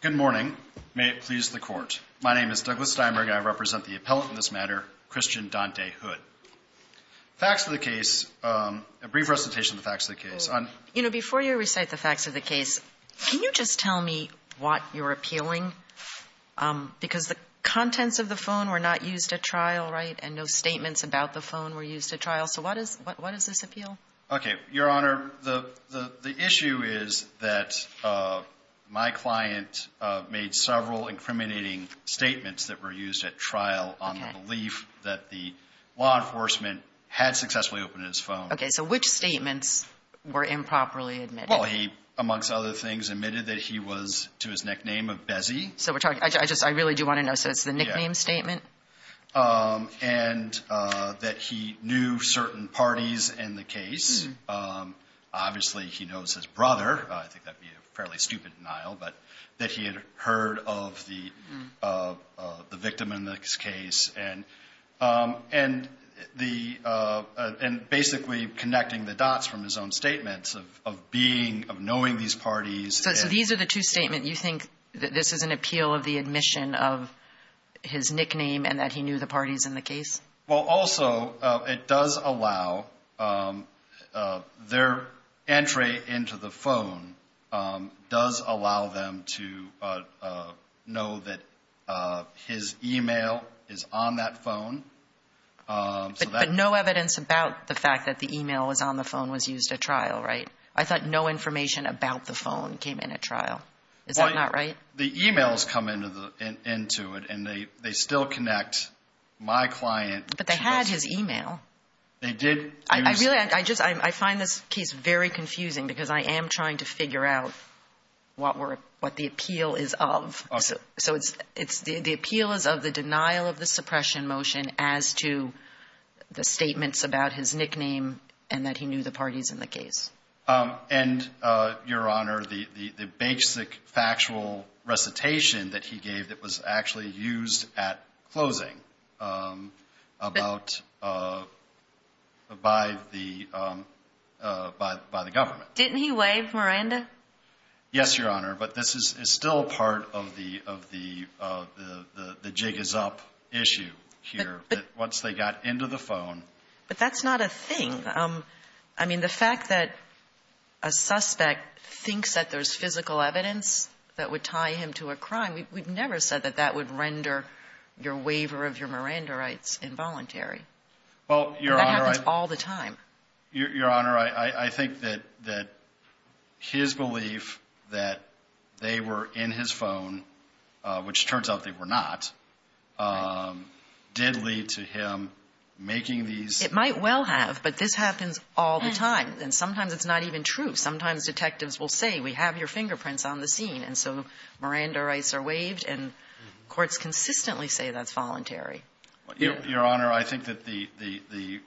Good morning. May it please the court. My name is Douglas Steinberg. I represent the appellate in this matter, Christian Dante Hood. Facts of the case, a brief recitation of the facts of the case. Before you recite the facts of the case, can you just tell me what you're appealing? Because the contents of the phone were not used at trial, right, and no statements about the phone were used at trial. So what does this appeal? Okay, Your Honor, the issue is that my client made several incriminating statements that were used at trial on the belief that the law enforcement had successfully opened his phone. Okay, so which statements were improperly admitted? Well, he, amongst other things, admitted that he was to his nickname of Bessie. So we're talking, I just, I really do want to know, so it's the nickname statement? And that he knew certain parties in the case. Obviously, he knows his brother. I think that would be a fairly stupid denial, but that he had heard of the victim in this case. And the, and basically connecting the dots from his own statements of being, of knowing these parties. So these are the two statements. You think that this is an appeal of the admission of his nickname and that he knew the parties in the case? Well, also, it does allow, their entry into the phone does allow them to know that his email is on that phone. But no evidence about the fact that the email was on the phone was used at trial, right? I thought no information about the phone came in at trial. Is that not right? The emails come into it and they still connect my client to Bessie. But they had his email. They did. I really, I just, I find this case very confusing because I am trying to figure out what the appeal is of. So it's, the appeal is of the denial of the suppression motion as to the statements about his nickname and that he knew the parties in the case. And, Your Honor, the basic factual recitation that he gave that was actually used at closing about, by the government. Didn't he wave Miranda? Yes, Your Honor. But this is still part of the jig is up issue here. Once they got into the phone. But that's not a thing. I mean, the fact that a suspect thinks that there's physical evidence that would tie him to a crime, we've never said that that would render your waiver of your Miranda rights involuntary. Well, Your Honor. That happens all the time. Your Honor, I think that his belief that they were in his phone, which turns out they were not, did lead to him making these. It might well have. But this happens all the time. And sometimes it's not even true. Sometimes detectives will say, we have your fingerprints on the scene. And so Miranda rights are waived and courts consistently say that's voluntary. Your Honor, I think that the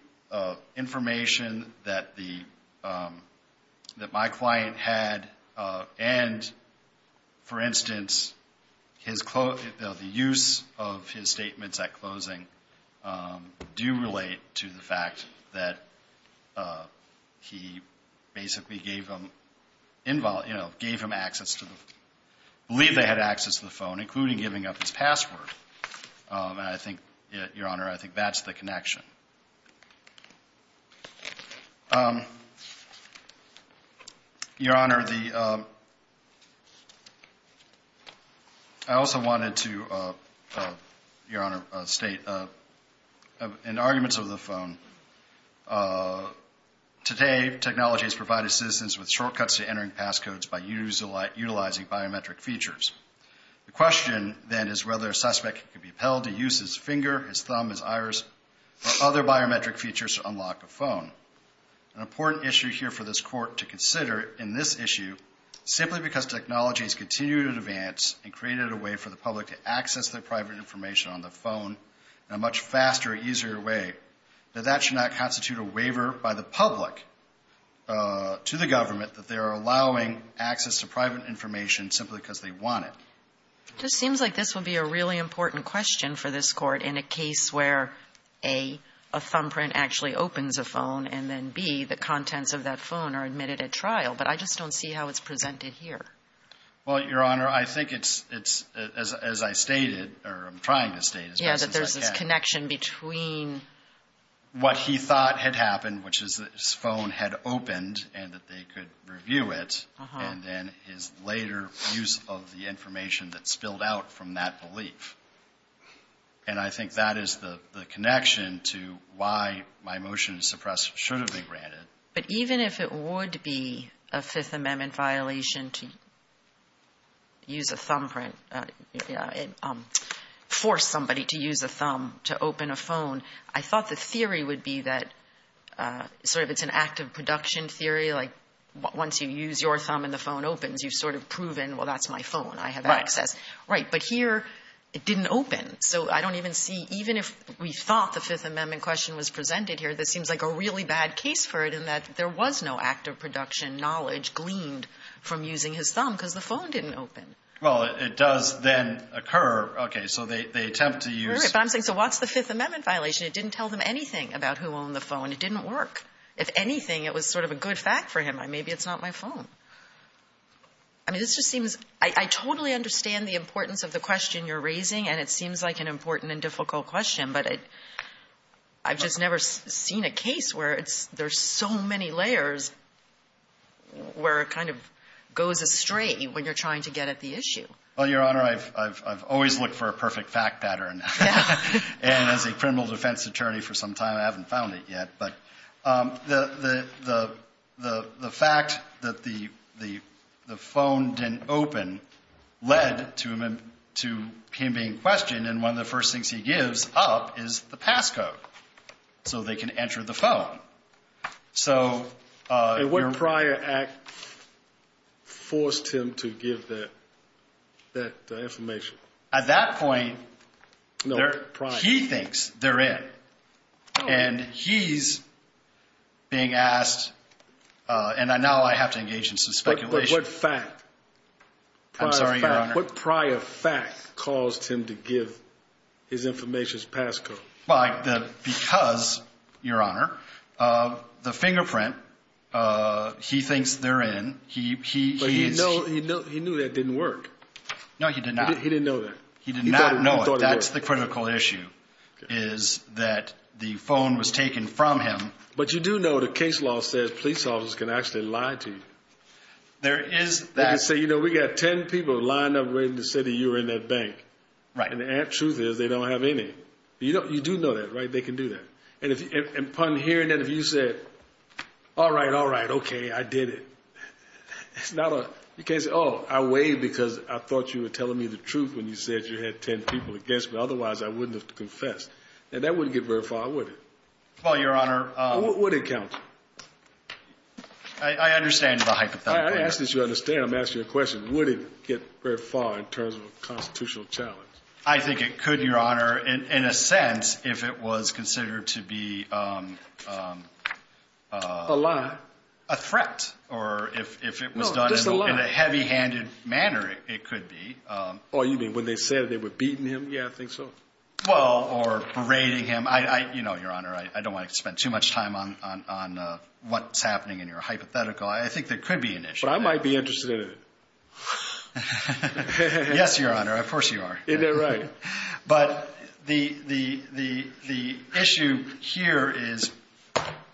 information that my client had and, for instance, the use of his statements at closing do relate to the fact that he basically gave him access to the, believe they had access to the phone, including giving up his password. And I think, Your Honor, I think that's the connection. Your Honor, I also wanted to, Your Honor, state in arguments over the phone, today technology has provided citizens with shortcuts to entering passcodes by utilizing biometric features. The question, then, is whether a suspect can be appealed to use his finger, his thumb, his iris, or other biometric features to unlock a phone. An important issue here for this court to consider in this issue, simply because technology has continued in advance and created a way for the public to access their private information on the phone in a much faster, easier way, that that should not constitute a waiver by the public to the government that they are allowing access to private information simply because they want it. It just seems like this would be a really important question for this court in a case where, A, a thumbprint actually opens a phone, and then, B, the contents of that phone are admitted at trial. But I just don't see how it's presented here. Well, Your Honor, I think it's, as I stated, or I'm trying to state as best as I can. Yeah, that there's this connection between what he thought had happened, which is that his phone had opened and that they could review it, and then his later use of the information that spilled out from that belief. And I think that is the connection to why my motion to suppress should have been granted. But even if it would be a Fifth Amendment violation to use a thumbprint, force somebody to use a thumb to open a phone, I thought the theory would be that sort of it's an active production theory, like once you use your thumb and the phone opens, you've sort of proven, well, that's my phone. I have access. Right. Right. But here it didn't open. So I don't even see, even if we thought the Fifth Amendment question was presented here, this seems like a really bad case for it in that there was no active production knowledge gleaned from using his thumb because the phone didn't open. Well, it does then occur. Okay. So they attempt to use. Right. But I'm saying, so what's the Fifth Amendment violation? It didn't tell them anything about who owned the phone. It didn't work. If anything, it was sort of a good fact for him. Maybe it's not my phone. I mean, this just seems, I totally understand the importance of the question you're raising, and it seems like an important and difficult question, but I've just never seen a case where there's so many layers where it kind of goes astray when you're trying to get at the issue. Well, Your Honor, I've always looked for a perfect fact pattern, and as a criminal defense attorney for some time, I haven't found it yet. But the fact that the phone didn't open led to him being questioned, and one of the first things he gives up is the passcode so they can enter the phone. And what prior act forced him to give that information? At that point, he thinks they're in, and he's being asked, and now I have to engage in some speculation. But what fact? I'm sorry, Your Honor. What prior fact caused him to give his information's passcode? Because, Your Honor, the fingerprint, he thinks they're in. But he knew that didn't work. No, he did not. He didn't know that. He did not know it. That's the critical issue is that the phone was taken from him. But you do know the case law says police officers can actually lie to you. There is that. They can say, you know, we got 10 people lined up waiting to say that you were in that bank. Right. And the truth is they don't have any. You do know that, right? They can do that. And upon hearing that, if you said, all right, all right, okay, I did it. It's not a, you can't say, oh, I waved because I thought you were telling me the truth when you said you had 10 people against me. Otherwise, I wouldn't have to confess. And that wouldn't get very far, would it? Well, Your Honor. Would it count? I understand the hypothetical. I ask that you understand. I'm asking you a question. Would it get very far in terms of a constitutional challenge? I think it could, Your Honor, in a sense, if it was considered to be a threat. Or if it was done in a heavy-handed manner, it could be. Oh, you mean when they said they were beating him? Yeah, I think so. Well, or berating him. You know, Your Honor, I don't want to spend too much time on what's happening in your hypothetical. I think there could be an issue. But I might be interested in it. Yes, Your Honor, of course you are. Isn't that right? But the issue here is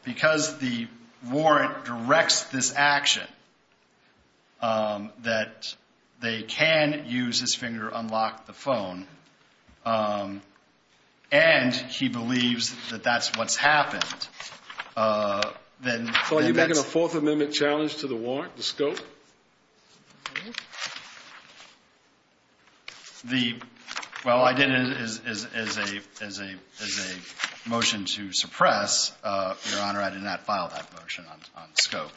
because the warrant directs this action, that they can use his finger, unlock the phone, and he believes that that's what's happened. So are you making a Fourth Amendment challenge to the warrant, the scope? Well, I did it as a motion to suppress. Your Honor, I did not file that motion on scope.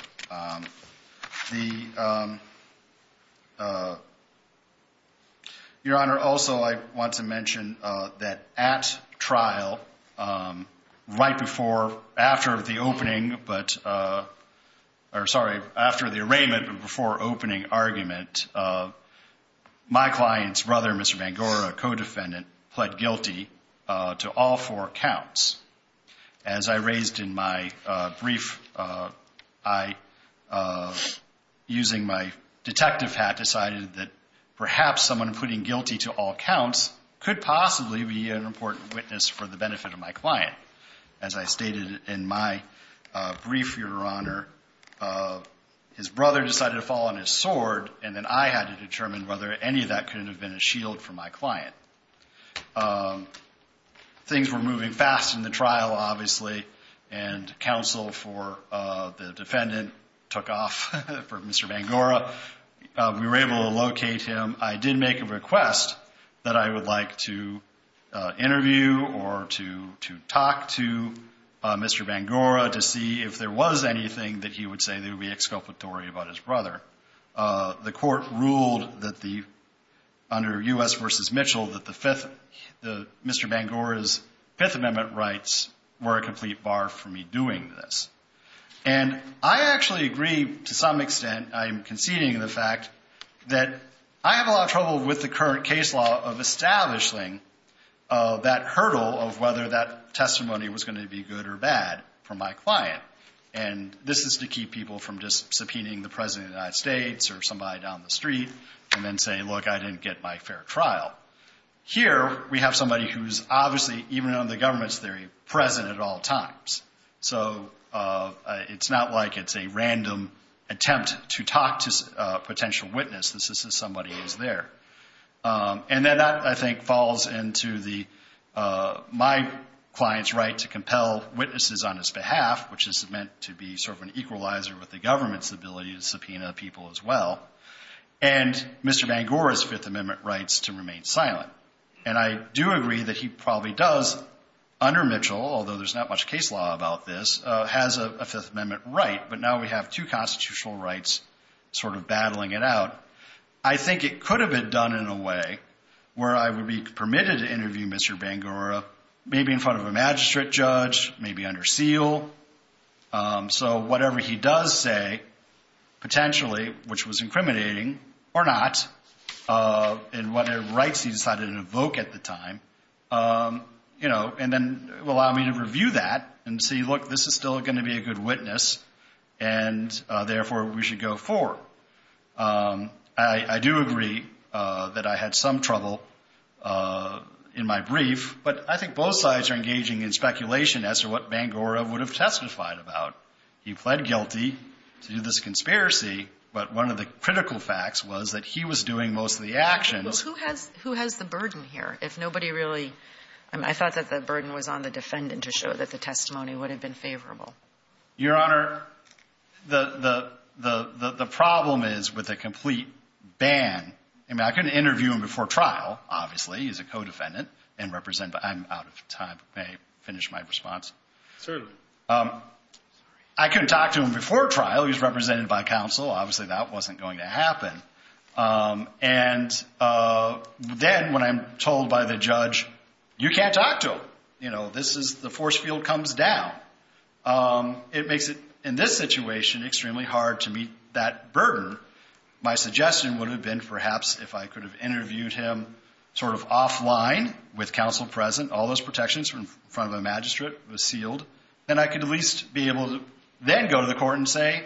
Your Honor, also I want to mention that at trial, right before, after the opening, or sorry, after the arraignment, but before opening argument, my client's brother, Mr. Mangora, co-defendant, pled guilty to all four counts. As I raised in my brief, I, using my detective hat, decided that perhaps someone pleading guilty to all counts could possibly be an important witness for the benefit of my client. As I stated in my brief, Your Honor, his brother decided to fall on his sword, and then I had to determine whether any of that could have been a shield for my client. Things were moving fast in the trial, obviously, and counsel for the defendant took off for Mr. Mangora. We were able to locate him. I did make a request that I would like to interview or to talk to Mr. Mangora to see if there was anything that he would say that would be exculpatory about his brother. The court ruled that the, under U.S. v. Mitchell, that Mr. Mangora's Fifth Amendment rights were a complete bar for me doing this. And I actually agree to some extent, I'm conceding the fact, that I have a lot of trouble with the current case law of establishing that hurdle of whether that testimony was going to be good or bad for my client. And this is to keep people from just subpoenaing the President of the United States or somebody down the street and then say, look, I didn't get my fair trial. Here we have somebody who's obviously, even under the government's theory, present at all times. So it's not like it's a random attempt to talk to a potential witness. This is somebody who's there. And then that, I think, falls into my client's right to compel witnesses on his behalf, which is meant to be sort of an equalizer with the government's ability to subpoena people as well, and Mr. Mangora's Fifth Amendment rights to remain silent. And I do agree that he probably does, under Mitchell, although there's not much case law about this, has a Fifth Amendment right, but now we have two constitutional rights sort of battling it out. I think it could have been done in a way where I would be permitted to interview Mr. Mangora, maybe in front of a magistrate judge, maybe under seal. So whatever he does say, potentially, which was incriminating or not, and what rights he decided to evoke at the time, you know, and then allow me to review that and see, look, this is still going to be a good witness, and therefore we should go forward. I do agree that I had some trouble in my brief, but I think both sides are engaging in speculation as to what Mangora would have testified about. He pled guilty to this conspiracy, but one of the critical facts was that he was doing most of the actions. Well, who has the burden here? If nobody really, I thought that the burden was on the defendant to show that the testimony would have been favorable. Your Honor, the problem is with a complete ban. I mean, I can interview him before trial, obviously. He's a co-defendant, and I'm out of time. May I finish my response? Certainly. I couldn't talk to him before trial. He was represented by counsel. Obviously, that wasn't going to happen. And then when I'm told by the judge, you can't talk to him. You know, this is the force field comes down. It makes it, in this situation, extremely hard to meet that burden. My suggestion would have been perhaps if I could have interviewed him sort of offline with counsel present, all those protections in front of the magistrate was sealed, then I could at least be able to then go to the court and say,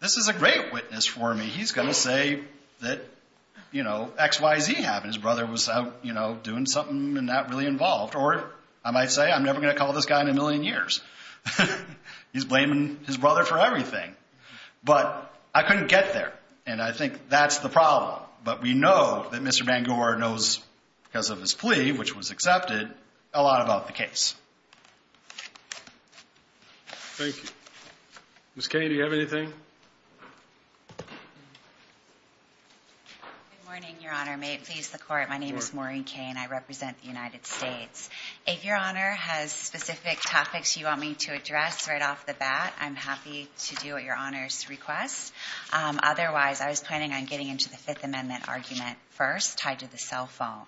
this is a great witness for me. He's going to say that, you know, XYZ happened. His brother was out, you know, doing something and not really involved. Or I might say, I'm never going to call this guy in a million years. He's blaming his brother for everything. But I couldn't get there, and I think that's the problem. But we know that Mr. Bangor knows, because of his plea, which was accepted, a lot about the case. Thank you. Ms. Cain, do you have anything? Good morning, Your Honor. May it please the Court. My name is Maureen Cain. I represent the United States. If Your Honor has specific topics you want me to address right off the bat, I'm happy to do what Your Honor's request. Otherwise, I was planning on getting into the Fifth Amendment argument first, tied to the cell phone.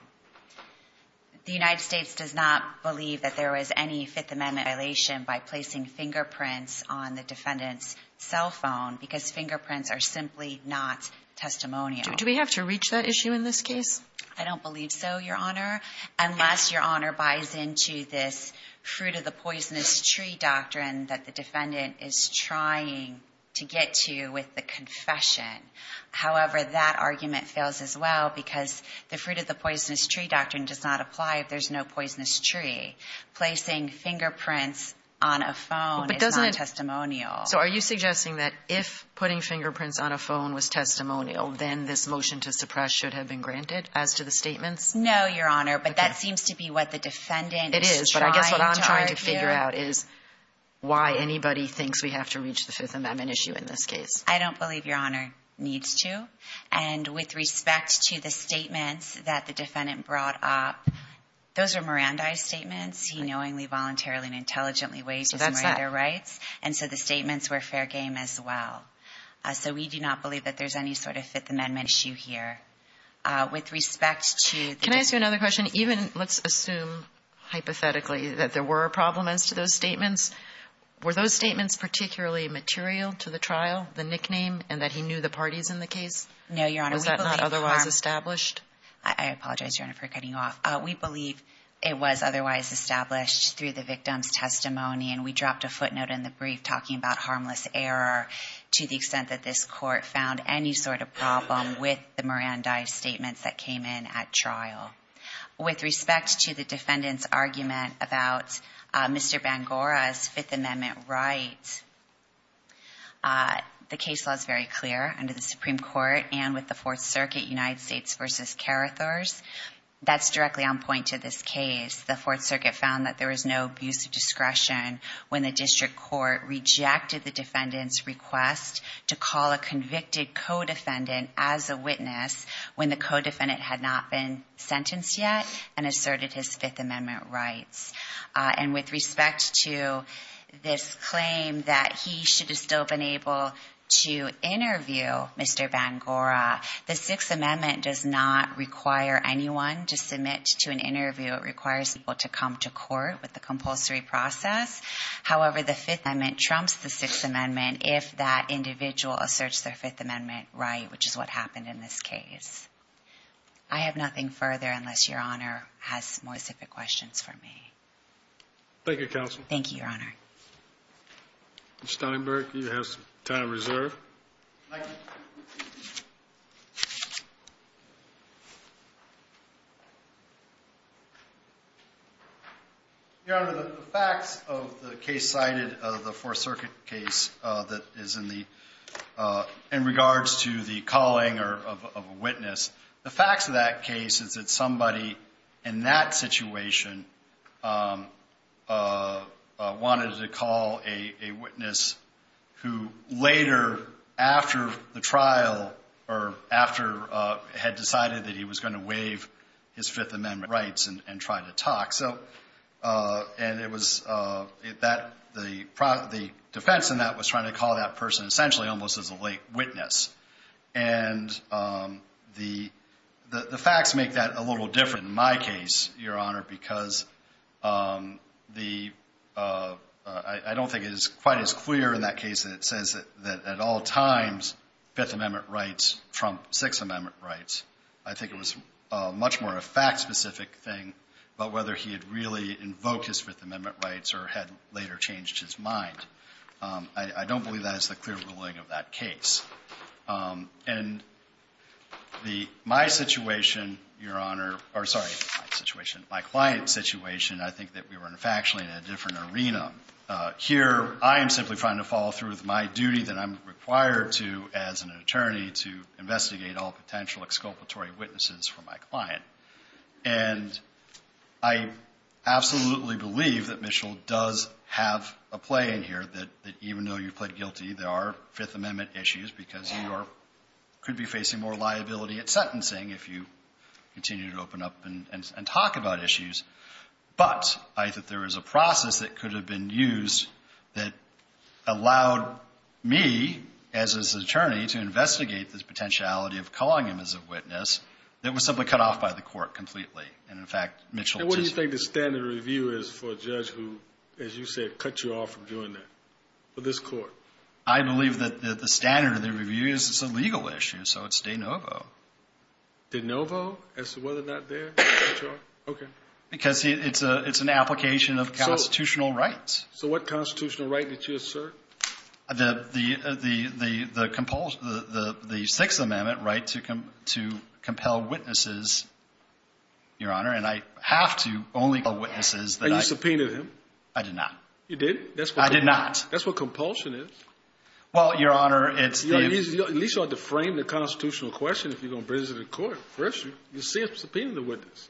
The United States does not believe that there was any Fifth Amendment violation by placing fingerprints on the defendant's cell phone, because fingerprints are simply not testimonial. Do we have to reach that issue in this case? I don't believe so, Your Honor, unless Your Honor buys into this fruit-of-the-poisonous-tree doctrine that the defendant is trying to get to with the confession. However, that argument fails as well, because the fruit-of-the-poisonous-tree doctrine does not apply if there's no poisonous tree. Placing fingerprints on a phone is not testimonial. So are you suggesting that if putting fingerprints on a phone was testimonial, then this motion to suppress should have been granted as to the statements? No, Your Honor. But that seems to be what the defendant is trying to argue. It is. But I guess what I'm trying to figure out is why anybody thinks we have to reach the Fifth Amendment issue in this case. I don't believe Your Honor needs to. And with respect to the statements that the defendant brought up, those were Mirandi's statements. He knowingly, voluntarily, and intelligently waived his murder rights. So that's that. And so the statements were fair game as well. So we do not believe that there's any sort of Fifth Amendment issue here. With respect to the defendant's testimony. Can I ask you another question? Even, let's assume, hypothetically, that there were problems to those statements, were those statements particularly material to the trial, the nickname, and that he knew the parties in the case? No, Your Honor. Was that not otherwise established? I apologize, Your Honor, for cutting you off. We believe it was otherwise established through the victim's testimony, and we dropped a footnote in the brief talking about harmless error to the extent that this court found any sort of problem with the Mirandi statements that came in at trial. With respect to the defendant's argument about Mr. Bangora's Fifth Amendment right, the case law is very clear under the Supreme Court and with the Fourth Circuit, United States v. Carithers. That's directly on point to this case. The Fourth Circuit found that there was no abuse of discretion when the district court rejected the defendant's request to call a convicted co-defendant as a witness when the co-defendant had not been sentenced yet and asserted his Fifth Amendment rights. And with respect to this claim that he should have still been able to interview Mr. Bangora, the Sixth Amendment does not require anyone to submit to an interview. It requires people to come to court with the compulsory process. However, the Fifth Amendment trumps the Sixth Amendment if that individual asserts their Fifth Amendment right, which is what happened in this case. I have nothing further unless Your Honor has more specific questions for me. Thank you, Counsel. Thank you, Your Honor. Mr. Steinberg, you have some time reserved. Thank you. Your Honor, the facts of the case cited of the Fourth Circuit case that is in regards to the calling of a witness, the facts of that case is that somebody in that situation wanted to call a witness who later after the trial or after had decided that he was going to waive his Fifth Amendment rights and try to talk. And it was that the defense in that was trying to call that person essentially almost as a late witness. And the facts make that a little different in my case, Your Honor, because I don't think it is quite as clear in that case that it says that at all times Fifth Amendment rights trump Sixth Amendment rights. I think it was much more a fact-specific thing about whether he had really invoked his Fifth Amendment rights or had later changed his mind. I don't believe that is the clear ruling of that case. And my situation, Your Honor, or sorry, my situation, my client's situation, I think that we were in factually in a different arena. Here I am simply trying to follow through with my duty that I'm required to as an attorney to investigate all potential exculpatory witnesses for my client. And I absolutely believe that Mitchell does have a play in here that even though you plead guilty, there are Fifth Amendment issues because you could be facing more liability at sentencing if you continue to open up and talk about issues. But I think there is a process that could have been used that allowed me, as his attorney, to investigate this potentiality of calling him as a witness that was simply cut off by the court completely. And in fact, Mitchell just… And what do you think the standard review is for a judge who, as you said, cut you off from doing that, for this court? I believe that the standard of the review is it's a legal issue, so it's de novo. De novo as to whether or not they cut you off? Okay. Because it's an application of constitutional rights. So what constitutional right did you assert? The Sixth Amendment right to compel witnesses, Your Honor, and I have to only compel witnesses that I… And you subpoenaed him? I did not. You did? I did not. That's what compulsion is. Well, Your Honor, it's… At least you ought to frame the constitutional question if you're going to bring this to the court. First, you see I'm subpoenaing the witness,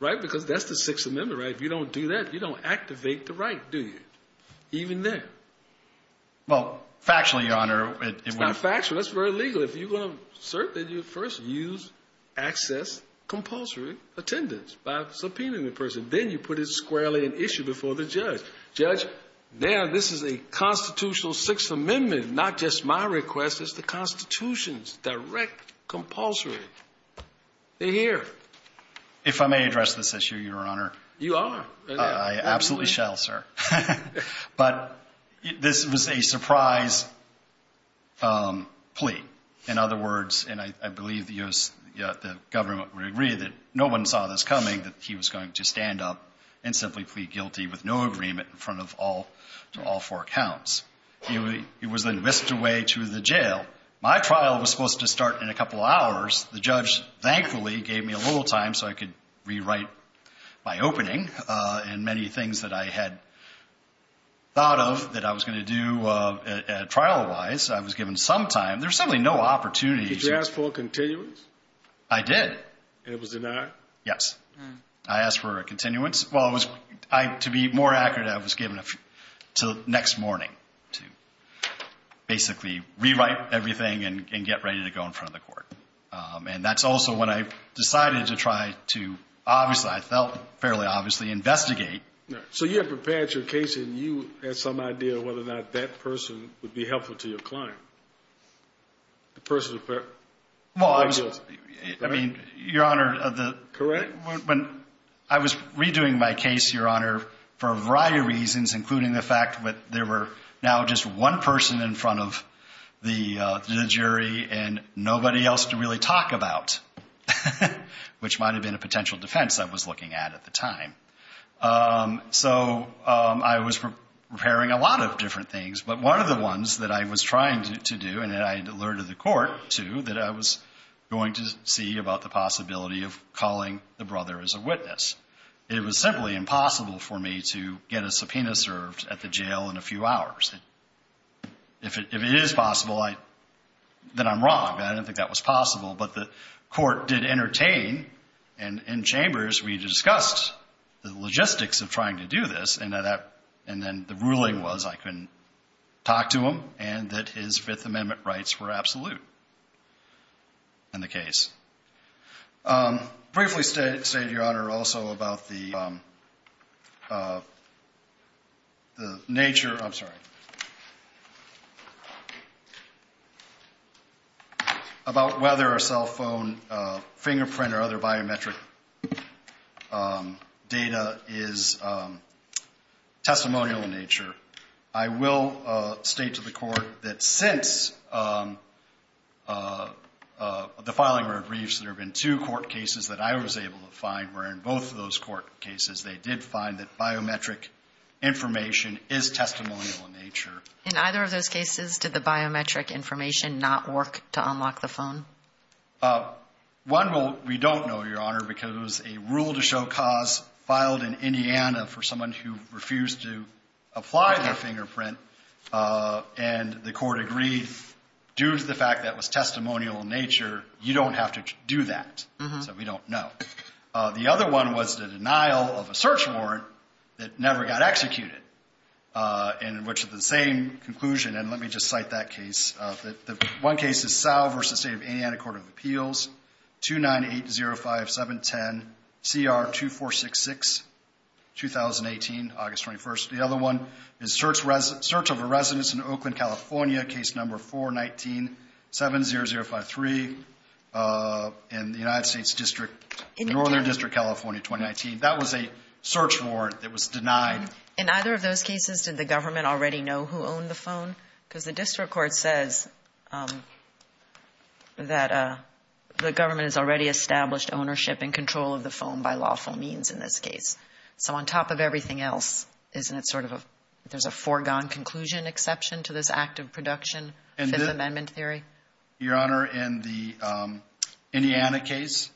right? Because that's the Sixth Amendment right. If you don't do that, you don't activate the right, do you? Even then. Well, factually, Your Honor… It's not factual. That's very legal. If you're going to assert that, you first use access compulsory attendance by subpoenaing the person. Then you put it squarely in issue before the judge. Judge, now this is a constitutional Sixth Amendment. Not just my request. It's the Constitution's direct compulsory. They're here. If I may address this issue, Your Honor. You are. I absolutely shall, sir. But this was a surprise plea. In other words, and I believe the government would agree that no one saw this coming, that he was going to stand up and simply plead guilty with no agreement in front of all four counts. He was then whisked away to the jail. My trial was supposed to start in a couple hours. The judge, thankfully, gave me a little time so I could rewrite my opening and many things that I had thought of that I was going to do trial-wise. I was given some time. There was simply no opportunity. Did you ask for a continuance? I did. And it was denied? Yes. I asked for a continuance. Well, to be more accurate, I was given until next morning to basically rewrite everything and get ready to go in front of the court. And that's also when I decided to try to, obviously, I felt fairly obviously, investigate. So you had prepared your case and you had some idea of whether or not that person would be helpful to your client? The person? Well, I mean, Your Honor, when I was redoing my case, Your Honor, for a variety of reasons including the fact that there were now just one person in front of the jury and nobody else to really talk about, which might have been a potential defense I was looking at at the time. So I was preparing a lot of different things. But one of the ones that I was trying to do, and I alerted the court to, that I was going to see about the possibility of calling the brother as a witness. It was simply impossible for me to get a subpoena served at the jail in a few hours. If it is possible, then I'm wrong. I don't think that was possible. But the court did entertain and in chambers we discussed the logistics of trying to do this and then the ruling was I couldn't talk to him and that his Fifth Amendment rights were absolute in the case. Briefly state, Your Honor, also about the nature of, I'm sorry, about whether a cell phone fingerprint or other biometric data is testimonial in nature. I will state to the court that since the filing of briefs, there have been two court cases that I was able to find where in both of those court cases they did find that biometric information is testimonial in nature. In either of those cases, did the biometric information not work to unlock the phone? One we don't know, Your Honor, because a rule to show cause filed in Indiana for someone who refused to apply their fingerprint and the court agreed due to the fact that it was testimonial in nature, you don't have to do that. So we don't know. The other one was the denial of a search warrant that never got executed in which the same conclusion, and let me just cite that case. One case is Sal versus the state of Indiana Court of Appeals, 29805710CR2466, 2018, August 21st. The other one is search of a residence in Oakland, California, case number 41970053 in the United States District, Northern District, California, 2019. That was a search warrant that was denied. In either of those cases, did the government already know who owned the phone? Because the district court says that the government has already established ownership and control of the phone by lawful means in this case. So on top of everything else, isn't it sort of a, there's a foregone conclusion exception to this act of production, Fifth Amendment theory? Your Honor, in the Indiana case,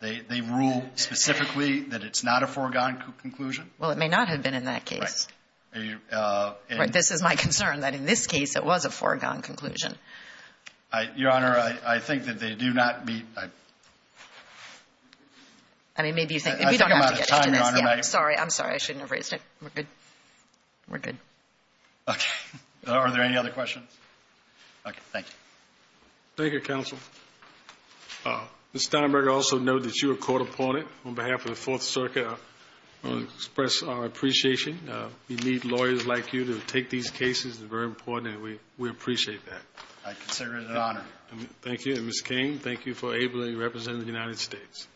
they rule specifically that it's not a foregone conclusion. Well, it may not have been in that case. Right. This is my concern, that in this case it was a foregone conclusion. Your Honor, I think that they do not meet. I mean, maybe you think, we don't have to get into this. I'm sorry, I'm sorry. I shouldn't have raised it. We're good. We're good. Okay. Are there any other questions? Okay. Thank you. Thank you, Counsel. Ms. Steinberger, also note that you were caught upon it on behalf of the Fourth Circuit. I want to express our appreciation. We need lawyers like you to take these cases. It's very important, and we appreciate that. I consider it an honor. Thank you. And, Ms. King, thank you for ably representing the United States.